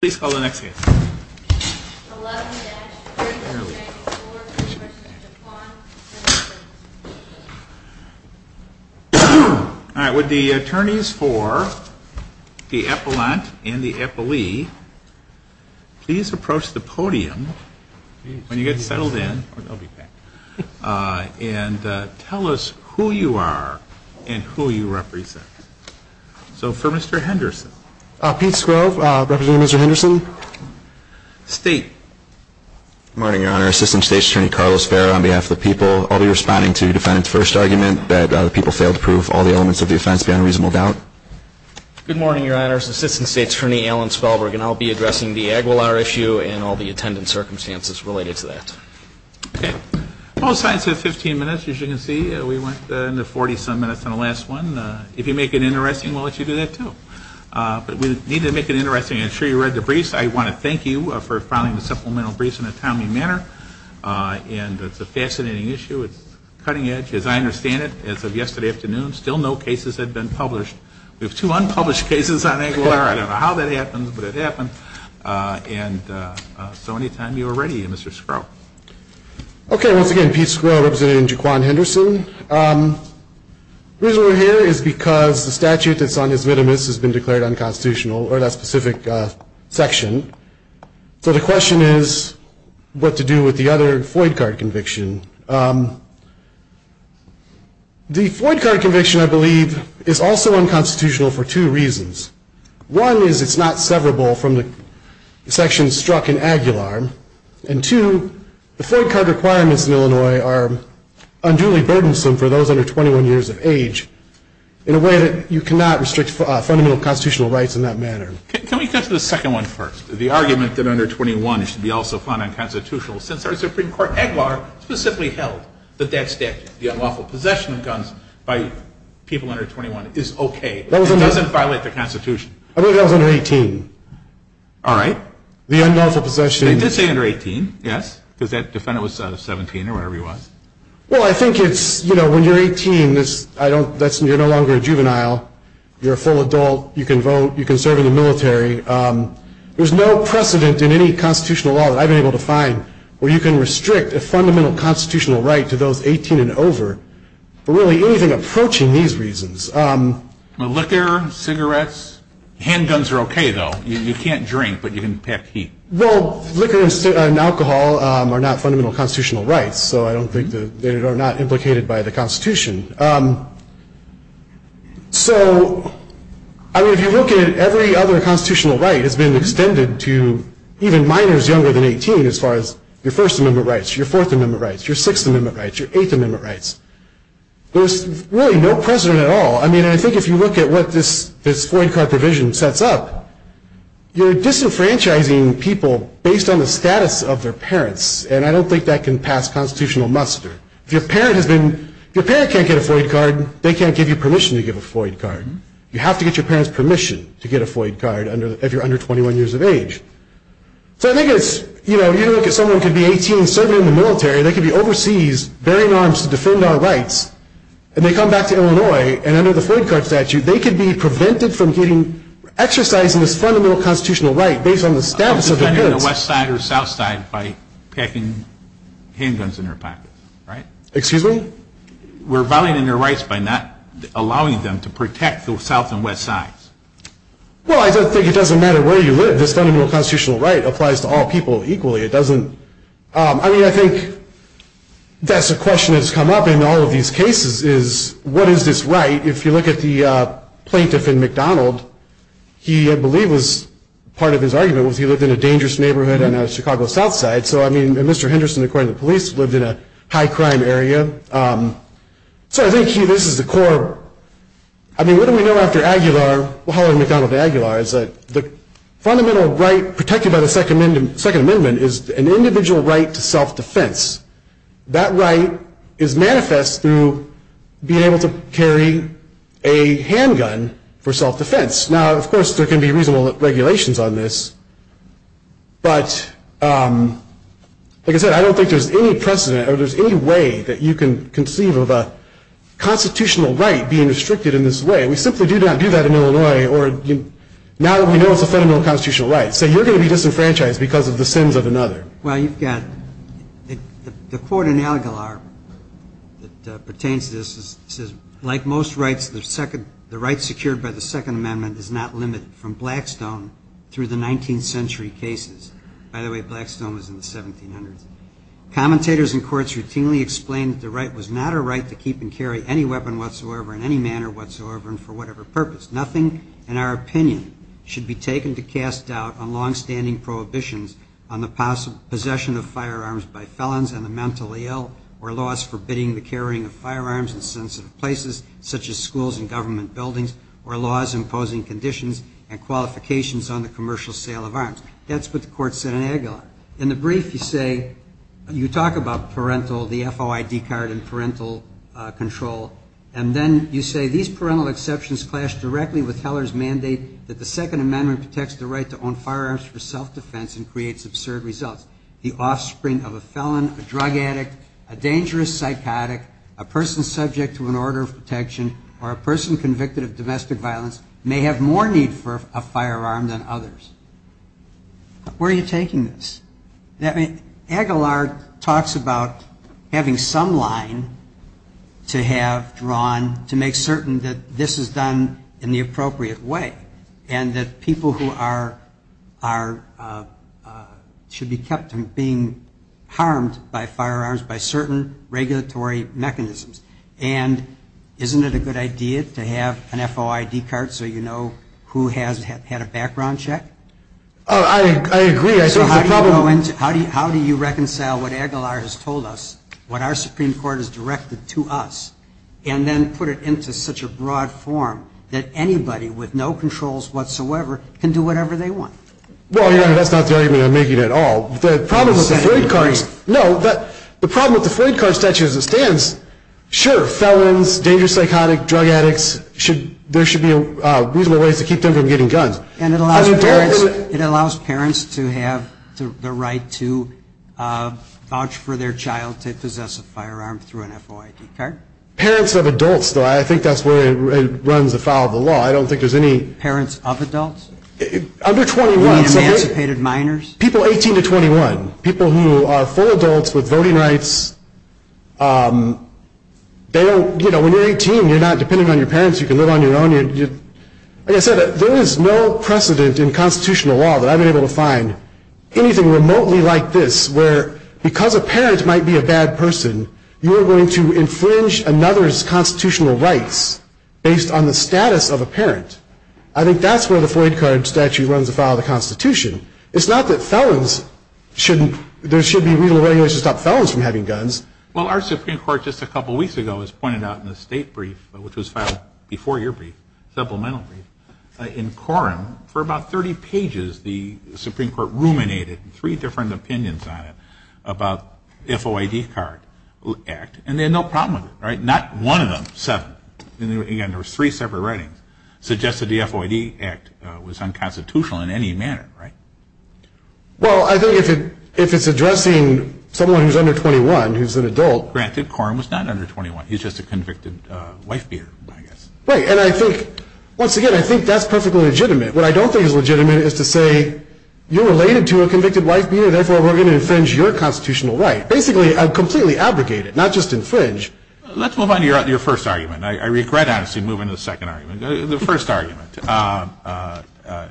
Please call the next case. Would the attorneys for the appellant and the appellee please approach the podium when you get settled in and tell us who you are and who you represent. So for Mr. Henderson. Good morning, Your Honor. Assistant State's Attorney Carlos Ferrer on behalf of the people. I'll be responding to the defendant's first argument that the people failed to prove all the elements of the offense beyond reasonable doubt. Good morning, Your Honor. It's Assistant State's Attorney Alan Spellberg and I'll be addressing the Aguilar issue and all the attendant circumstances related to that. Both sides have 15 minutes, as you can see. We went into 40-some minutes on the last one. If you make it interesting, we'll let you do that, too. But we need to make it interesting. I'm sure you read the briefs. I want to thank you for filing the supplemental briefs in a timely manner. And it's a fascinating issue. It's cutting edge, as I understand it, as of yesterday afternoon. Still no cases have been published. We have two unpublished cases on Aguilar. I don't know how that happened, but it happened. And so anytime you are ready, Mr. Skro. Okay. Once again, Pete Skro, representing Jaquan Henderson. The reason we're here is because the statute that's on his minimus has been declared unconstitutional, or that specific section. So the question is what to do with the other FOID card conviction. The FOID card conviction, I believe, is also unconstitutional for two reasons. One is it's not severable from the section struck in Aguilar. And two, the FOID card requirements in Illinois are unduly burdensome for those under 21 years of age, in a way that you cannot restrict fundamental constitutional rights in that manner. Can we get to the second one first? The argument that under 21 should be also found unconstitutional, since our Supreme Court, Aguilar, specifically held that that statute, the unlawful possession of guns by people under 21, is okay. It doesn't violate the Constitution. I believe that was under 18. All right. The unlawful possession. They did say under 18, yes, because that defendant was 17 or whatever he was. Well, I think it's, you know, when you're 18, you're no longer a juvenile. You're a full adult. You can vote. You can serve in the military. There's no precedent in any constitutional law that I've been able to find where you can restrict a fundamental constitutional right to those 18 and over, for really anything approaching these reasons. Liquor, cigarettes. Handguns are okay, though. You can't drink, but you can pack heat. Well, liquor and alcohol are not fundamental constitutional rights, so I don't think they are not implicated by the Constitution. So, I mean, if you look at every other constitutional right, it's been extended to even minors younger than 18, as far as your First Amendment rights, your Fourth Amendment rights, your Sixth Amendment rights, your Eighth Amendment rights. There's really no precedent at all. I mean, I think if you look at what this FOID card provision sets up, you're disenfranchising people based on the status of their parents, and I don't think that can pass constitutional muster. If your parent can't get a FOID card, they can't give you permission to give a FOID card. You have to get your parent's permission to get a FOID card if you're under 21 years of age. So I think it's, you know, you look at someone who could be 18 serving in the military, they could be overseas bearing arms to defend our rights, and they come back to Illinois, and under the FOID card statute, they could be prevented from getting exercise in this fundamental constitutional right based on the status of their parents. I'm defending the West Side or South Side by packing handguns in their pockets, right? Excuse me? We're violating their rights by not allowing them to protect the South and West Sides. Well, I think it doesn't matter where you live. This fundamental constitutional right applies to all people equally. I mean, I think that's a question that's come up in all of these cases is what is this right? If you look at the plaintiff in McDonald, he, I believe, was part of his argument was he lived in a dangerous neighborhood on the Chicago South Side. So, I mean, Mr. Henderson, according to the police, lived in a high-crime area. So I think this is the core. I mean, what do we know after Aguilar? The fundamental right protected by the Second Amendment is an individual right to self-defense. That right is manifest through being able to carry a handgun for self-defense. Now, of course, there can be reasonable regulations on this, but like I said, I don't think there's any precedent or there's any way that you can conceive of a constitutional right being restricted in this way. We simply do not do that in Illinois. Now that we know it's a fundamental constitutional right, say you're going to be disenfranchised because of the sins of another. Well, you've got the court in Aguilar that pertains to this says, like most rights, the right secured by the Second Amendment is not limited from Blackstone through the 19th century cases. By the way, Blackstone was in the 1700s. Commentators in courts routinely explained that the right was not a right to keep and carry any weapon whatsoever in any manner whatsoever and for whatever purpose. Nothing, in our opinion, should be taken to cast doubt on longstanding prohibitions on the possession of firearms by felons and the mentally ill, or laws forbidding the carrying of firearms in sensitive places, such as schools and government buildings, or laws imposing conditions and qualifications on the commercial sale of arms. That's what the court said in Aguilar. In the brief, you talk about parental, the FOID card and parental control, and then you say these parental exceptions clash directly with Heller's mandate that the Second Amendment protects the right to own firearms for self-defense and creates absurd results. The offspring of a felon, a drug addict, a dangerous psychotic, a person subject to an order of protection, or a person convicted of domestic violence may have more need for a firearm than others. Where are you taking this? Aguilar talks about having some line to have drawn to make certain that this is done in the appropriate way, and that people who are, should be kept from being harmed by firearms by certain regulatory mechanisms. And isn't it a good idea to have an FOID card so you know who has had a background check? How do you reconcile what Aguilar has told us, what our Supreme Court has directed to us, and then put it into such a broad form that anybody with no controls whatsoever can do whatever they want? Well, Your Honor, that's not the argument I'm making at all. The problem with the FOID card statute as it stands, sure, felons, dangerous psychotic, drug addicts, there should be reasonable ways to keep them from getting guns. And it allows parents to have the right to vouch for their child to possess a firearm through an FOID card? Parents of adults, though, I think that's where it runs afoul of the law. Parents of adults? Under 21. People 18 to 21. People who are full adults with voting rights. They don't, you know, when you're 18, you're not dependent on your parents, you can live on your own. Like I said, there is no precedent in constitutional law that I've been able to find anything remotely like this where because a parent might be a bad person, you are going to infringe another's constitutional rights based on the status of a parent. I think that's where the FOID card statute runs afoul of the Constitution. It's not that felons shouldn't, there should be reasonable ways to stop felons from having guns. Well, our Supreme Court just a couple of weeks ago has pointed out in the state brief, which was filed before your brief, supplemental brief, in quorum, for about 30 pages, the Supreme Court ruminated three different opinions on it about FOID card act. And they had no problem with it, right? Not one of them, seven. And there were three separate writings. Suggested the FOID act was unconstitutional in any manner, right? Well, I think if it's addressing someone who's under 21, who's an adult. Granted, Koren was not under 21, he's just a convicted wife beater, I guess. Right, and I think, once again, I think that's perfectly legitimate. What I don't think is legitimate is to say, you're related to a convicted wife beater, therefore we're going to infringe your constitutional right. Basically, completely abrogate it, not just infringe. Let's move on to your first argument. I regret, honestly, moving to the second argument. The first argument, the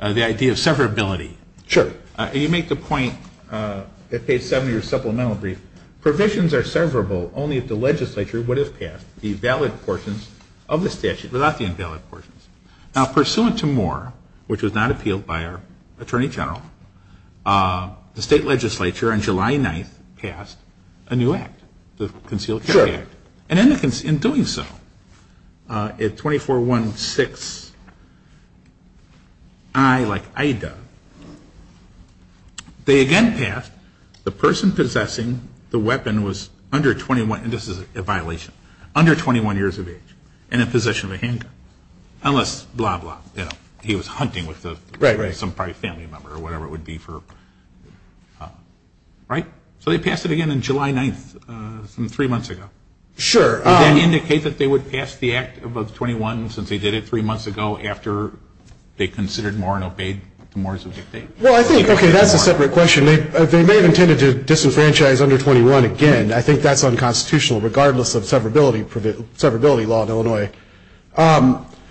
idea of severability. Sure. You make the point at page 70 of your supplemental brief, provisions are severable only if the legislature would have passed the valid portions of the statute without the invalid portions. Now, pursuant to Moore, which was not appealed by our attorney general, the state legislature on July 9th passed a new act, the concealed carry act. Sure. And in doing so, at 2416I, like I do, they again passed the person possessing the weapon was under 21, and this is a violation, under 21 years of age, and in possession of a handgun. Unless, blah, blah, he was hunting with some family member or whatever it would be. Right? So they passed it again on July 9th, some three months ago. Sure. Does that indicate that they would pass the act of 21 since they did it three months ago after they considered Moore and obeyed the Moores of the state? Well, I think, okay, that's a separate question. They may have intended to disenfranchise under 21 again. I think that's unconstitutional regardless of severability law in Illinois.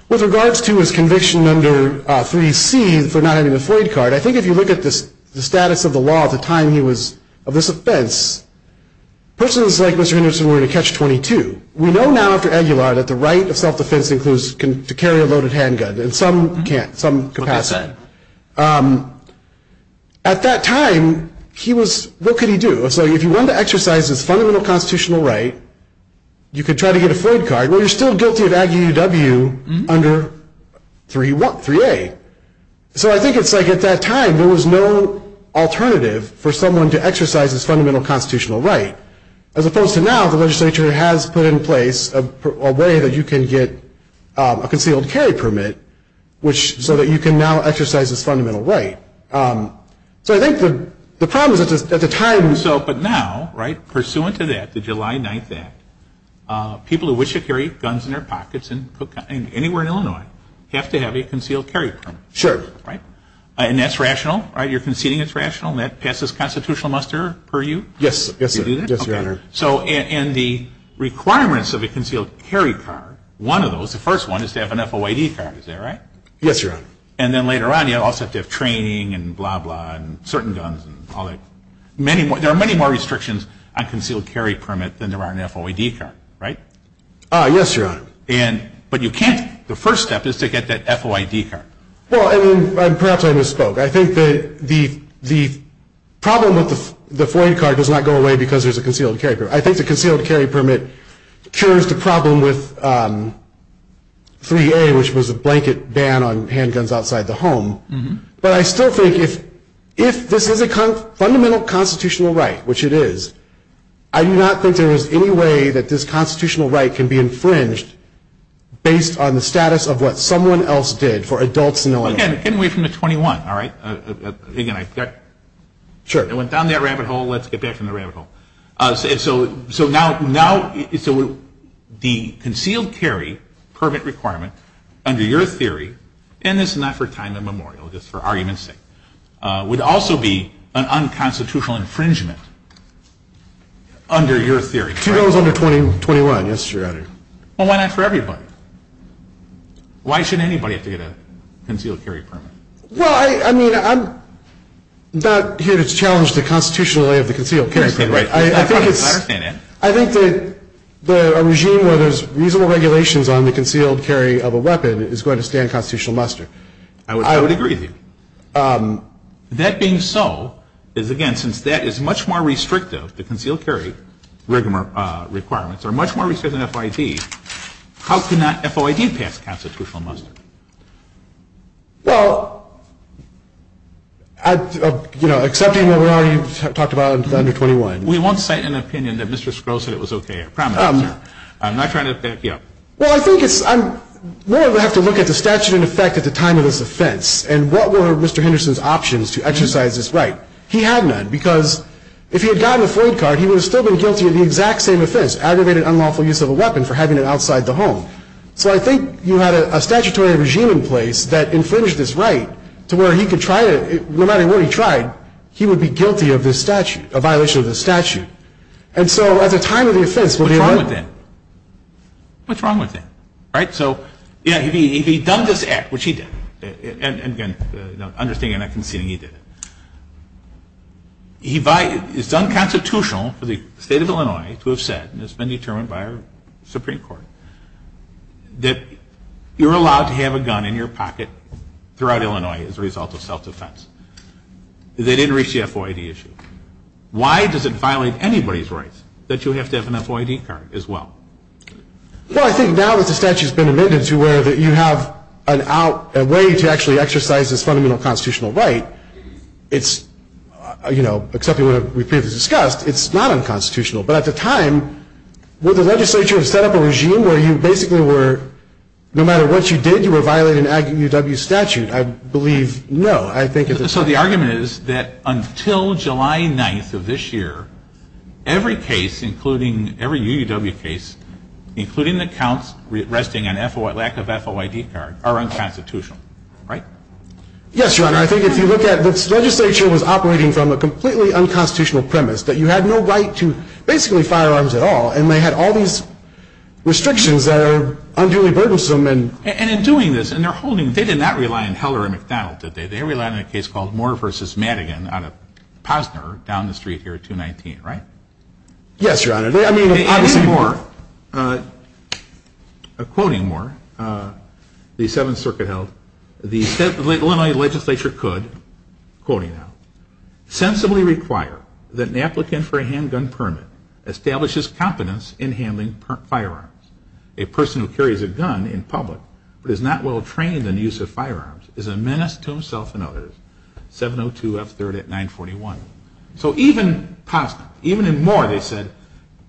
With regards to his conviction under 3C for not having a Floyd card, I think if you look at the status of the law at the time he was of this offense, persons like Mr. Henderson were going to catch 22. We know now after Aguilar that the right of self-defense includes to carry a loaded handgun in some capacity. At that time, what could he do? So if you wanted to exercise this fundamental constitutional right, you could try to get a Floyd card. Well, you're still guilty of Aggie UW under 3A. So I think it's like at that time there was no alternative for someone to exercise this fundamental constitutional right. As opposed to now, the legislature has put in place a way that you can get a concealed carry permit, so that you can now exercise this fundamental right. So I think the problem is at the time. But now, pursuant to that, the July 9th Act, people who wish to carry guns in their pockets anywhere in Illinois, have to have a concealed carry permit. And that's rational? You're conceding it's rational and that passes constitutional muster per you? Yes, Your Honor. So in the requirements of a concealed carry card, one of those, the first one is to have an FOID card, is that right? Yes, Your Honor. And then later on, you also have to have training and blah, blah, and certain guns and all that. There are many more restrictions on concealed carry permit than there are on FOID card, right? Yes, Your Honor. But you can't, the first step is to get that FOID card. Well, perhaps I misspoke. I think the problem with the FOID card does not go away because there's a concealed carry permit. I think the concealed carry permit cures the problem with 3A, which was a blanket ban on handguns outside the home. But I still think if this is a fundamental constitutional right, which it is, I do not think there is any way that this constitutional right can be infringed based on the status of what someone else did for adults in Illinois. Get away from the 21, all right? Sure. It went down that rabbit hole. Let's get back from the rabbit hole. So now the concealed carry permit requirement under your theory, and this is not for time immemorial, just for argument's sake, would also be an unconstitutional infringement under your theory. Two goes under 21, yes, Your Honor. Well, why not for everybody? Why should anybody have to get a concealed carry permit? Well, I mean, I'm not here to challenge the constitutional way of the concealed carry permit. I think it's – I think that a regime where there's reasonable regulations on the concealed carry of a weapon is going to stand constitutional muster. I would agree with you. That being so, is again, since that is much more restrictive, the concealed carry requirements are much more restrictive than FOID, how could not FOID pass constitutional muster? Well, you know, excepting what we already talked about under 21. We won't cite an opinion that Mr. Skrull said it was okay. I promise you. I'm not trying to back you up. Well, I think it's – we'll have to look at the statute in effect at the time of this offense and what were Mr. Henderson's options to exercise this right. He had none because if he had gotten a FOID card, he would have still been guilty of the exact same offense, aggravated unlawful use of a weapon for having it outside the home. So I think you had a statutory regime in place that infringed this right to where he could try to – no matter what he tried, he would be guilty of this statute, a violation of this statute. And so at the time of the offense, we'll be able to – What's wrong with that? What's wrong with that, right? So, yeah, if he had done this act, which he did – and again, understanding I'm not conceding he did it – it's unconstitutional for the state of Illinois to have said, and it's been determined by our Supreme Court, that you're allowed to have a gun in your pocket throughout Illinois as a result of self-defense. They didn't reach the FOID issue. Why does it violate anybody's rights that you have to have an FOID card as well? Well, I think now that the statute's been amended to where you have a way to actually exercise this fundamental constitutional right, it's – you know, except in what we've previously discussed, it's not unconstitutional. But at the time, would the legislature have set up a regime where you basically were – no matter what you did, you were violating an Aggie UW statute? I believe no. I think – So the argument is that until July 9th of this year, every case, including – every UW case, including the counts resting on lack of FOID card, are unconstitutional, right? Yes, Your Honor. I think if you look at – this legislature was operating from a completely unconstitutional premise that you had no right to basically firearms at all, and they had all these restrictions that are unduly burdensome and – And in doing this – and they're holding – they did not rely on Heller and McDonald, did they? They relied on a case called Moore v. Madigan out of Posner down the street here at 219, right? Yes, Your Honor. I mean, obviously – Quoting Moore, the Seventh Circuit held, the Illinois legislature could, quoting now, sensibly require that an applicant for a handgun permit establishes competence in handling firearms. A person who carries a gun in public but is not well trained in the use of firearms is a menace to himself and others, 702 F. 3rd at 941. So even Posner, even in Moore, they said,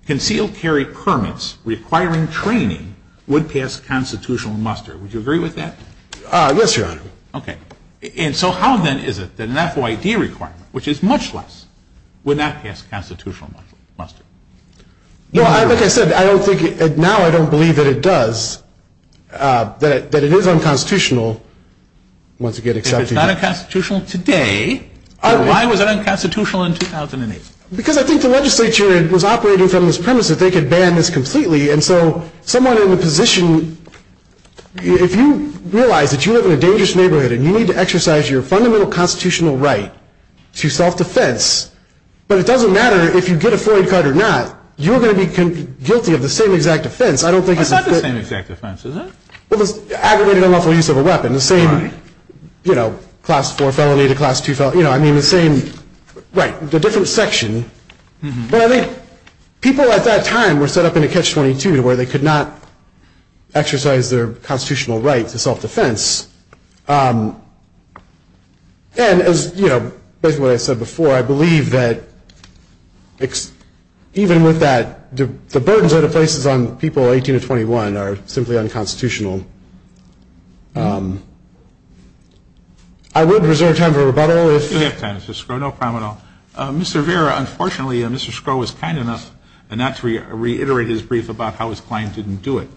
concealed carry permits requiring training would pass constitutional muster. Would you agree with that? Yes, Your Honor. Okay. And so how, then, is it that an FOID requirement, which is much less, would not pass constitutional muster? Well, like I said, I don't think – now I don't believe that it does, that it is unconstitutional once it gets accepted. If it's not unconstitutional today, then why was it unconstitutional in 2008? Because I think the legislature was operating from this premise that they could ban this completely, and so someone in the position – if you realize that you live in a dangerous neighborhood and you need to exercise your fundamental constitutional right to self-defense, but it doesn't matter if you get a FOID card or not, you're going to be guilty of the same exact offense. Well, it's not the same exact offense, is it? Well, it's aggravated unlawful use of a weapon. The same, you know, Class 4 felony to Class 2 felony. You know, I mean, the same – right, the different section. But I think people at that time were set up in a Catch-22 where they could not exercise their constitutional right to self-defense. And as, you know, based on what I said before, I believe that even with that, the burdens that it places on people 18 to 21 are simply unconstitutional. I would reserve time for rebuttal if – You have time, Mr. Skro, no problem at all. Mr. Vera, unfortunately, Mr. Skro was kind enough not to reiterate his brief about how his client didn't do it,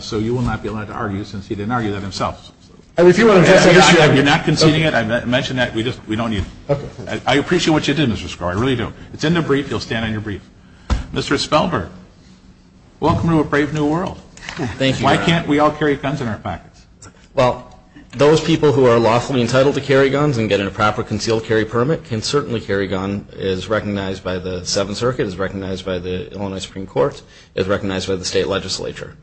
so you will not be allowed to argue since he didn't argue that himself. And if you want to address that issue – I'm not conceding it. I mentioned that. We just – we don't need – I appreciate what you did, Mr. Skro. I really do. It's in the brief. You'll stand on your brief. Mr. Spelberg, welcome to a brave new world. Thank you. Why can't we all carry guns in our pockets? Well, those people who are lawfully entitled to carry guns and get a proper concealed carry permit can certainly carry a gun as recognized by the Seventh Circuit, as recognized by the Illinois Supreme Court, as recognized by the state legislature.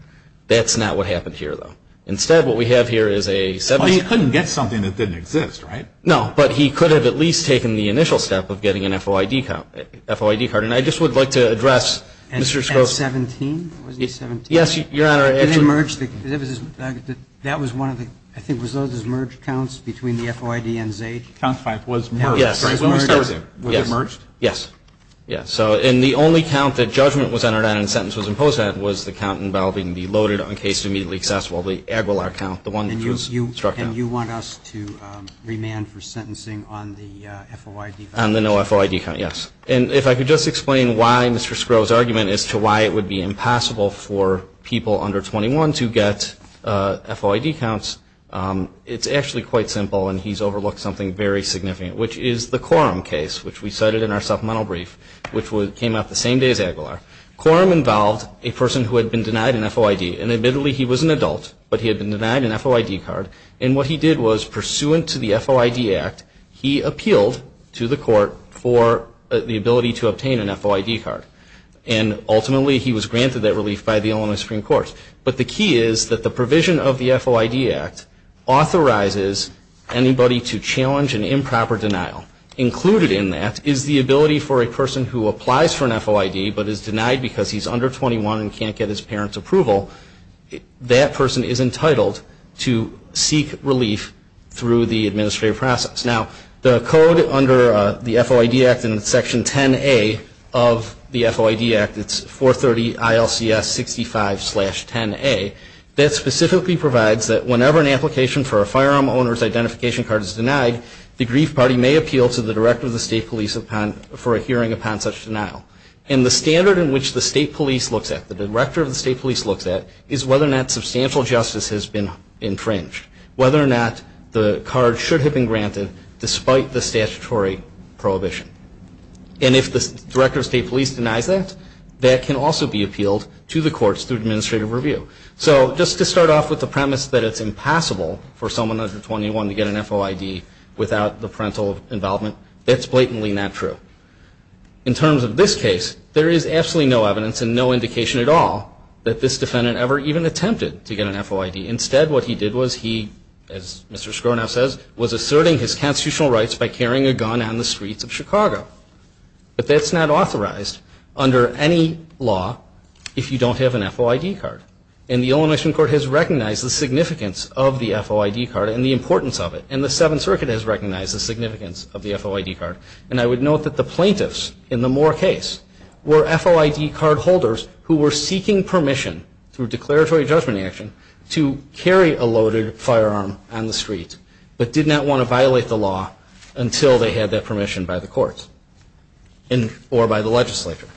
That's not what happened here, though. Instead, what we have here is a – Well, he couldn't get something that didn't exist, right? No. But he could have at least taken the initial step of getting an FOID card. And I just would like to address, Mr. Skro. And 17? Wasn't it 17? Yes, Your Honor. And it merged the – that was one of the – I think it was one of those merged counts between the FOID and ZAID. Count 5 was merged. Yes. Was it merged? Yes. Yes. And the only count that judgment was entered at and sentence was imposed at was the count involving the loaded on case to immediately accessible, the Aguilar count, the one that was struck down. And you want us to remand for sentencing on the FOID value? On the no FOID count, yes. And if I could just explain why Mr. Skro's argument as to why it would be impossible for people under 21 to get FOID counts. It's actually quite simple, and he's overlooked something very significant, which is the Coram case, which we cited in our supplemental brief, which came out the same day as Aguilar. Coram involved a person who had been denied an FOID. And admittedly, he was an adult, but he had been denied an FOID card. And what he did was, pursuant to the FOID Act, he appealed to the court for the ability to obtain an FOID card. And ultimately, he was granted that relief by the Illinois Supreme Court. But the key is that the provision of the FOID Act authorizes anybody to challenge an improper denial. Included in that is the ability for a person who applies for an FOID but is denied because he's under 21 and can't get his parents' approval. That person is entitled to seek relief through the administrative process. Now, the code under the FOID Act in Section 10A of the FOID Act, it's 430 ILCS 65-10A, that specifically provides that whenever an application for a firearm owner's identification card is denied, the grief party may appeal to the director of the state police for a hearing upon such denial. And the standard in which the state police looks at, the director of the state police looks at, is whether or not substantial justice has been infringed, whether or not the card should have been granted despite the statutory prohibition. And if the director of state police denies that, that can also be appealed to the courts through administrative review. So just to start off with the premise that it's impossible for someone under 21 to get an FOID without the parental involvement, that's blatantly not true. In terms of this case, there is absolutely no evidence and no indication at all that this defendant ever even attempted to get an FOID. Instead, what he did was he, as Mr. Scronav says, was asserting his constitutional rights by carrying a gun on the streets of Chicago. But that's not authorized under any law if you don't have an FOID card. And the Illinois Supreme Court has recognized the significance of the FOID card and the importance of it. And the Seventh Circuit has recognized the significance of the FOID card. And I would note that the plaintiffs in the Moore case were FOID card holders who were seeking permission through declaratory judgment action to carry a loaded firearm on the street, but did not want to violate the law until they had that permission by the courts or by the legislature.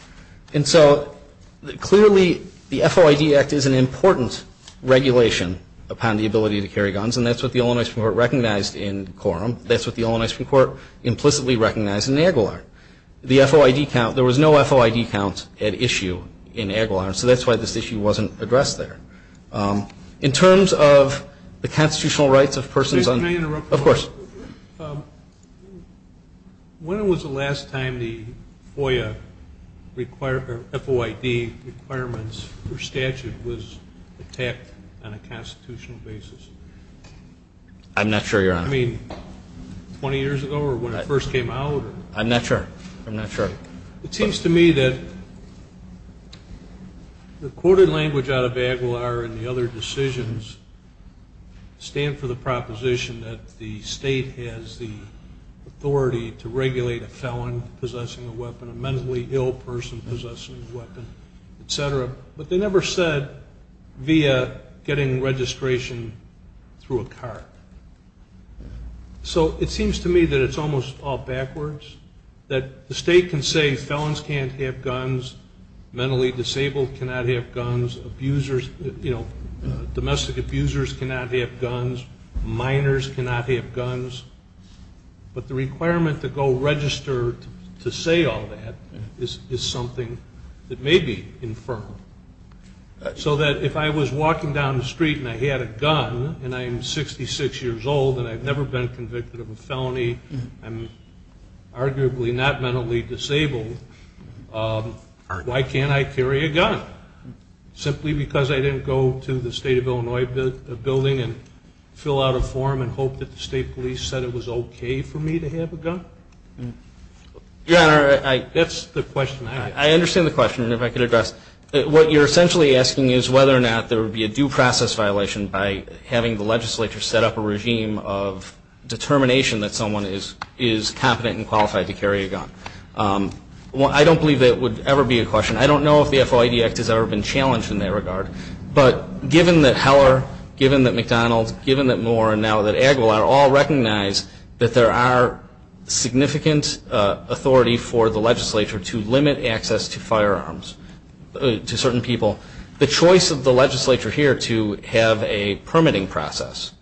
And so clearly the FOID Act is an important regulation upon the ability to carry guns, and that's what the Illinois Supreme Court recognized in quorum. That's what the Illinois Supreme Court implicitly recognized in Aguilar. The FOID count, there was no FOID count at issue in Aguilar, so that's why this issue wasn't addressed there. In terms of the constitutional rights of persons on the court. Can I interrupt you? Of course. When was the last time the FOIA required, FOID requirements for statute was attacked on a constitutional basis? I'm not sure, Your Honor. I mean, 20 years ago or when it first came out? I'm not sure. I'm not sure. It seems to me that the quoted language out of Aguilar and the other decisions stand for the proposition that the state has the authority to regulate a felon possessing a weapon, a mentally ill person possessing a weapon, et cetera, but they never said via getting registration through a card. So it seems to me that it's almost all backwards, that the state can say felons can't have guns, mentally disabled cannot have guns, domestic abusers cannot have guns, minors cannot have guns, but the requirement to go register to say all that is something that may be inferred. So that if I was walking down the street and I had a gun and I'm 66 years old and I've never been convicted of a felony, I'm arguably not mentally disabled, why can't I carry a gun? Simply because I didn't go to the state of Illinois building and fill out a form and hope that the state police said it was okay for me to have a gun? That's the question. I understand the question, and if I could address it. What you're essentially asking is whether or not there would be a due process violation by having the legislature set up a regime of determination that someone is competent and qualified to carry a gun. I don't believe that would ever be a question. I don't know if the FOID Act has ever been challenged in that regard, but given that Heller, given that McDonald's, given that Moore, and now that Aguilar all recognize that there are significant authority for the legislature to limit access to firearms to certain people, the choice of the legislature here to have a permitting process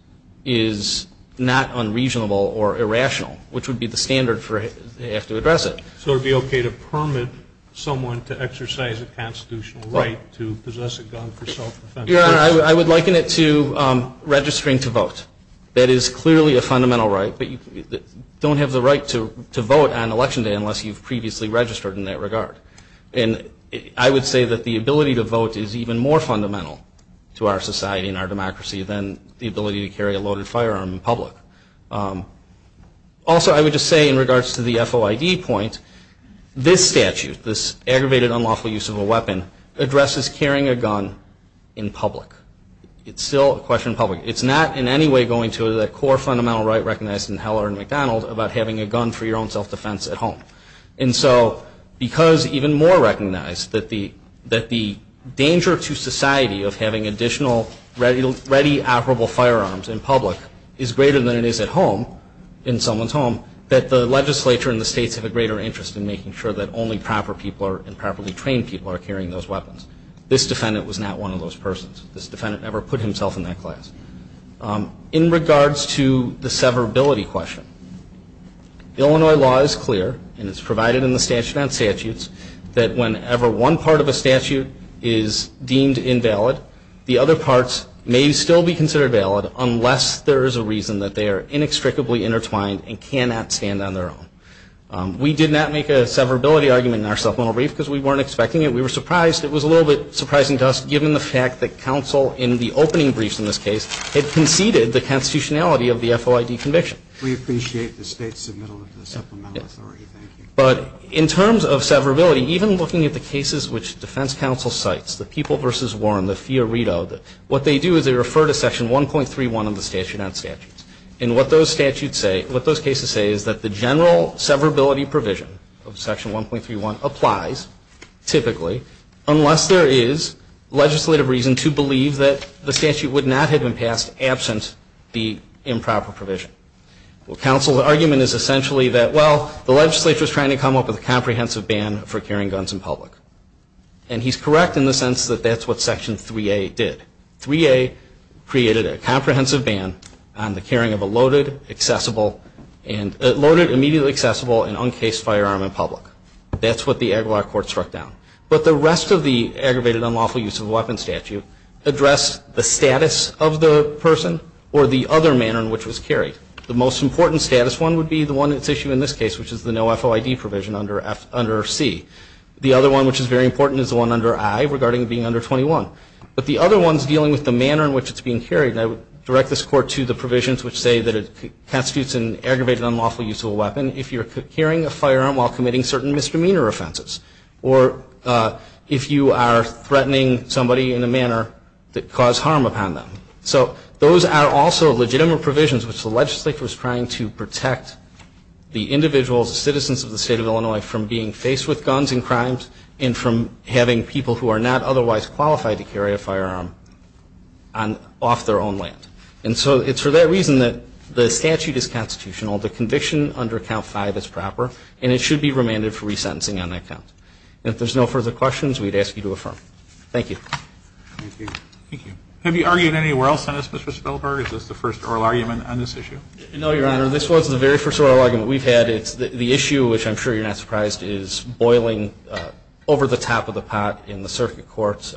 is not unreasonable or irrational, which would be the standard they have to address it. So it would be okay to permit someone to exercise a constitutional right to possess a gun for self-defense? I would liken it to registering to vote. That is clearly a fundamental right, but you don't have the right to vote on Election Day unless you've previously registered in that regard. I would say that the ability to vote is even more fundamental to our society and our democracy than the ability to carry a loaded firearm in public. Also, I would just say in regards to the FOID point, this statute, this aggravated unlawful use of a weapon, addresses carrying a gun in public. It's still a question of public. It's not in any way going to the core fundamental right recognized in Heller and McDonald about having a gun for your own self-defense at home. And so because even more recognized that the danger to society of having additional ready, operable firearms in public is greater than it is at home, in someone's home, that the legislature and the states have a greater interest in making sure that only proper people and properly trained people are carrying those weapons. This defendant was not one of those persons. This defendant never put himself in that class. In regards to the severability question, Illinois law is clear, and it's provided in the statute on statutes, that whenever one part of a statute is deemed invalid, the other parts may still be considered valid unless there is a reason that they are inextricably intertwined and cannot stand on their own. We did not make a severability argument in our supplemental brief because we weren't expecting it. We were surprised. It was a little bit surprising to us given the fact that counsel in the opening briefs in this case had conceded the constitutionality of the FOID conviction. We appreciate the state's submittal to the supplemental authority. Thank you. But in terms of severability, even looking at the cases which defense counsel cites, the People v. Warren, the Fiorito, what they do is they refer to Section 1.31 of the statute on statutes. And what those statutes say, what those cases say, is that the general severability provision of Section 1.31 applies, typically, unless there is legislative reason to believe that the statute would not have been passed absent the improper provision. Well, counsel's argument is essentially that, well, the legislature is trying to come up with a comprehensive ban for carrying guns in public. And he's correct in the sense that that's what Section 3A did. 3A created a comprehensive ban on the carrying of a loaded, accessible, and loaded immediately accessible and uncased firearm in public. That's what the Aguilar court struck down. But the rest of the aggravated unlawful use of a weapon statute address the status of the person or the other manner in which it was carried. The most important status one would be the one at issue in this case, which is the no FOID provision under C. The other one, which is very important, is the one under I, regarding being under 21. But the other one's dealing with the manner in which it's being carried. And I would direct this court to the provisions which say that it constitutes an aggravated unlawful use of a weapon if you're carrying a firearm while committing certain misdemeanor offenses or if you are threatening somebody in a manner that caused harm upon them. So those are also legitimate provisions which the legislature is trying to protect the individuals, the citizens of the state of Illinois from being faced with guns and crimes and from having people who are not otherwise qualified to carry a firearm off their own land. And so it's for that reason that the statute is constitutional. The conviction under Count 5 is proper, and it should be remanded for resentencing on that count. And if there's no further questions, we'd ask you to affirm. Thank you. Thank you. Thank you. Have you argued anywhere else on this, Mr. Spellberg? Is this the first oral argument on this issue? No, Your Honor. This was the very first oral argument we've had. The issue, which I'm sure you're not surprised, is boiling over the top of the pot in the circuit courts,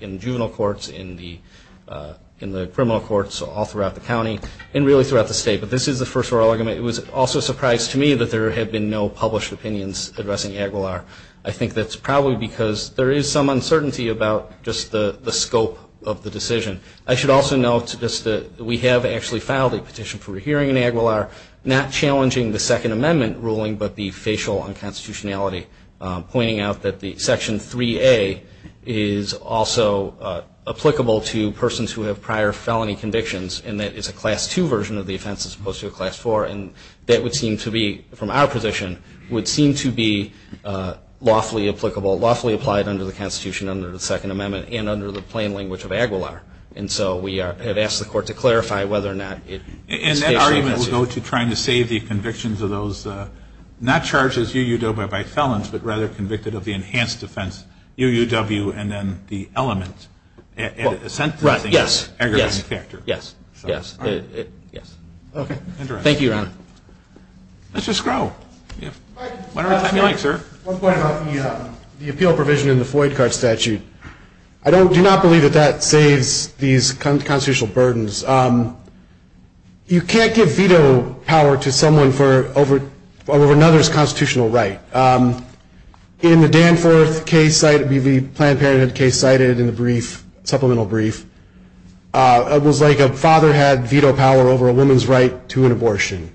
in juvenile courts, in the criminal courts, all throughout the county, and really throughout the state. But this is the first oral argument. It was also a surprise to me that there had been no published opinions addressing Aguilar. I think that's probably because there is some uncertainty about just the scope of the decision. I should also note just that we have actually filed a petition for a hearing in Aguilar, not challenging the Second Amendment ruling, but the facial unconstitutionality, pointing out that Section 3A is also applicable to persons who have prior felony convictions, and that it's a Class 2 version of the offense as opposed to a Class 4. And that would seem to be, from our position, would seem to be lawfully applicable, lawfully applied under the Constitution, under the Second Amendment, and under the plain language of Aguilar. And so we have asked the Court to clarify whether or not it is facial. And that argument will go to trying to save the convictions of those not charged as UUW by felons, but rather convicted of the enhanced offense, UUW, and then the element. Right, yes, yes, yes. Thank you, Your Honor. Mr. Scrow. One point about the appeal provision in the Floyd card statute. I do not believe that that saves these constitutional burdens. You can't give veto power to someone over another's constitutional right. In the Danforth case, the Planned Parenthood case cited in the brief, supplemental brief, it was like a father had veto power over a woman's right to an abortion.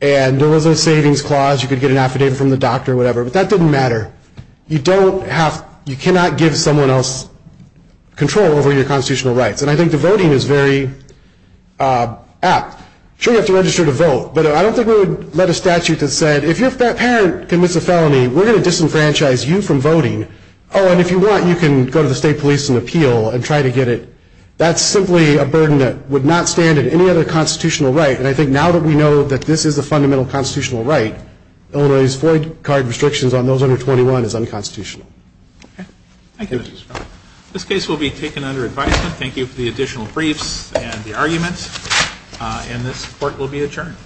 And there was a savings clause. You could get an affidavit from the doctor or whatever, but that didn't matter. You don't have, you cannot give someone else control over your constitutional rights. And I think the voting is very apt. Sure, you have to register to vote, but I don't think we would let a statute that said, if your parent commits a felony, we're going to disenfranchise you from voting. Oh, and if you want, you can go to the state police and appeal and try to get it. That's simply a burden that would not stand at any other constitutional right. And I think now that we know that this is a fundamental constitutional right, Illinois's Floyd card restrictions on those under 21 is unconstitutional. Thank you. This case will be taken under advisement. Thank you for the additional briefs and the arguments. And this Court will be adjourned.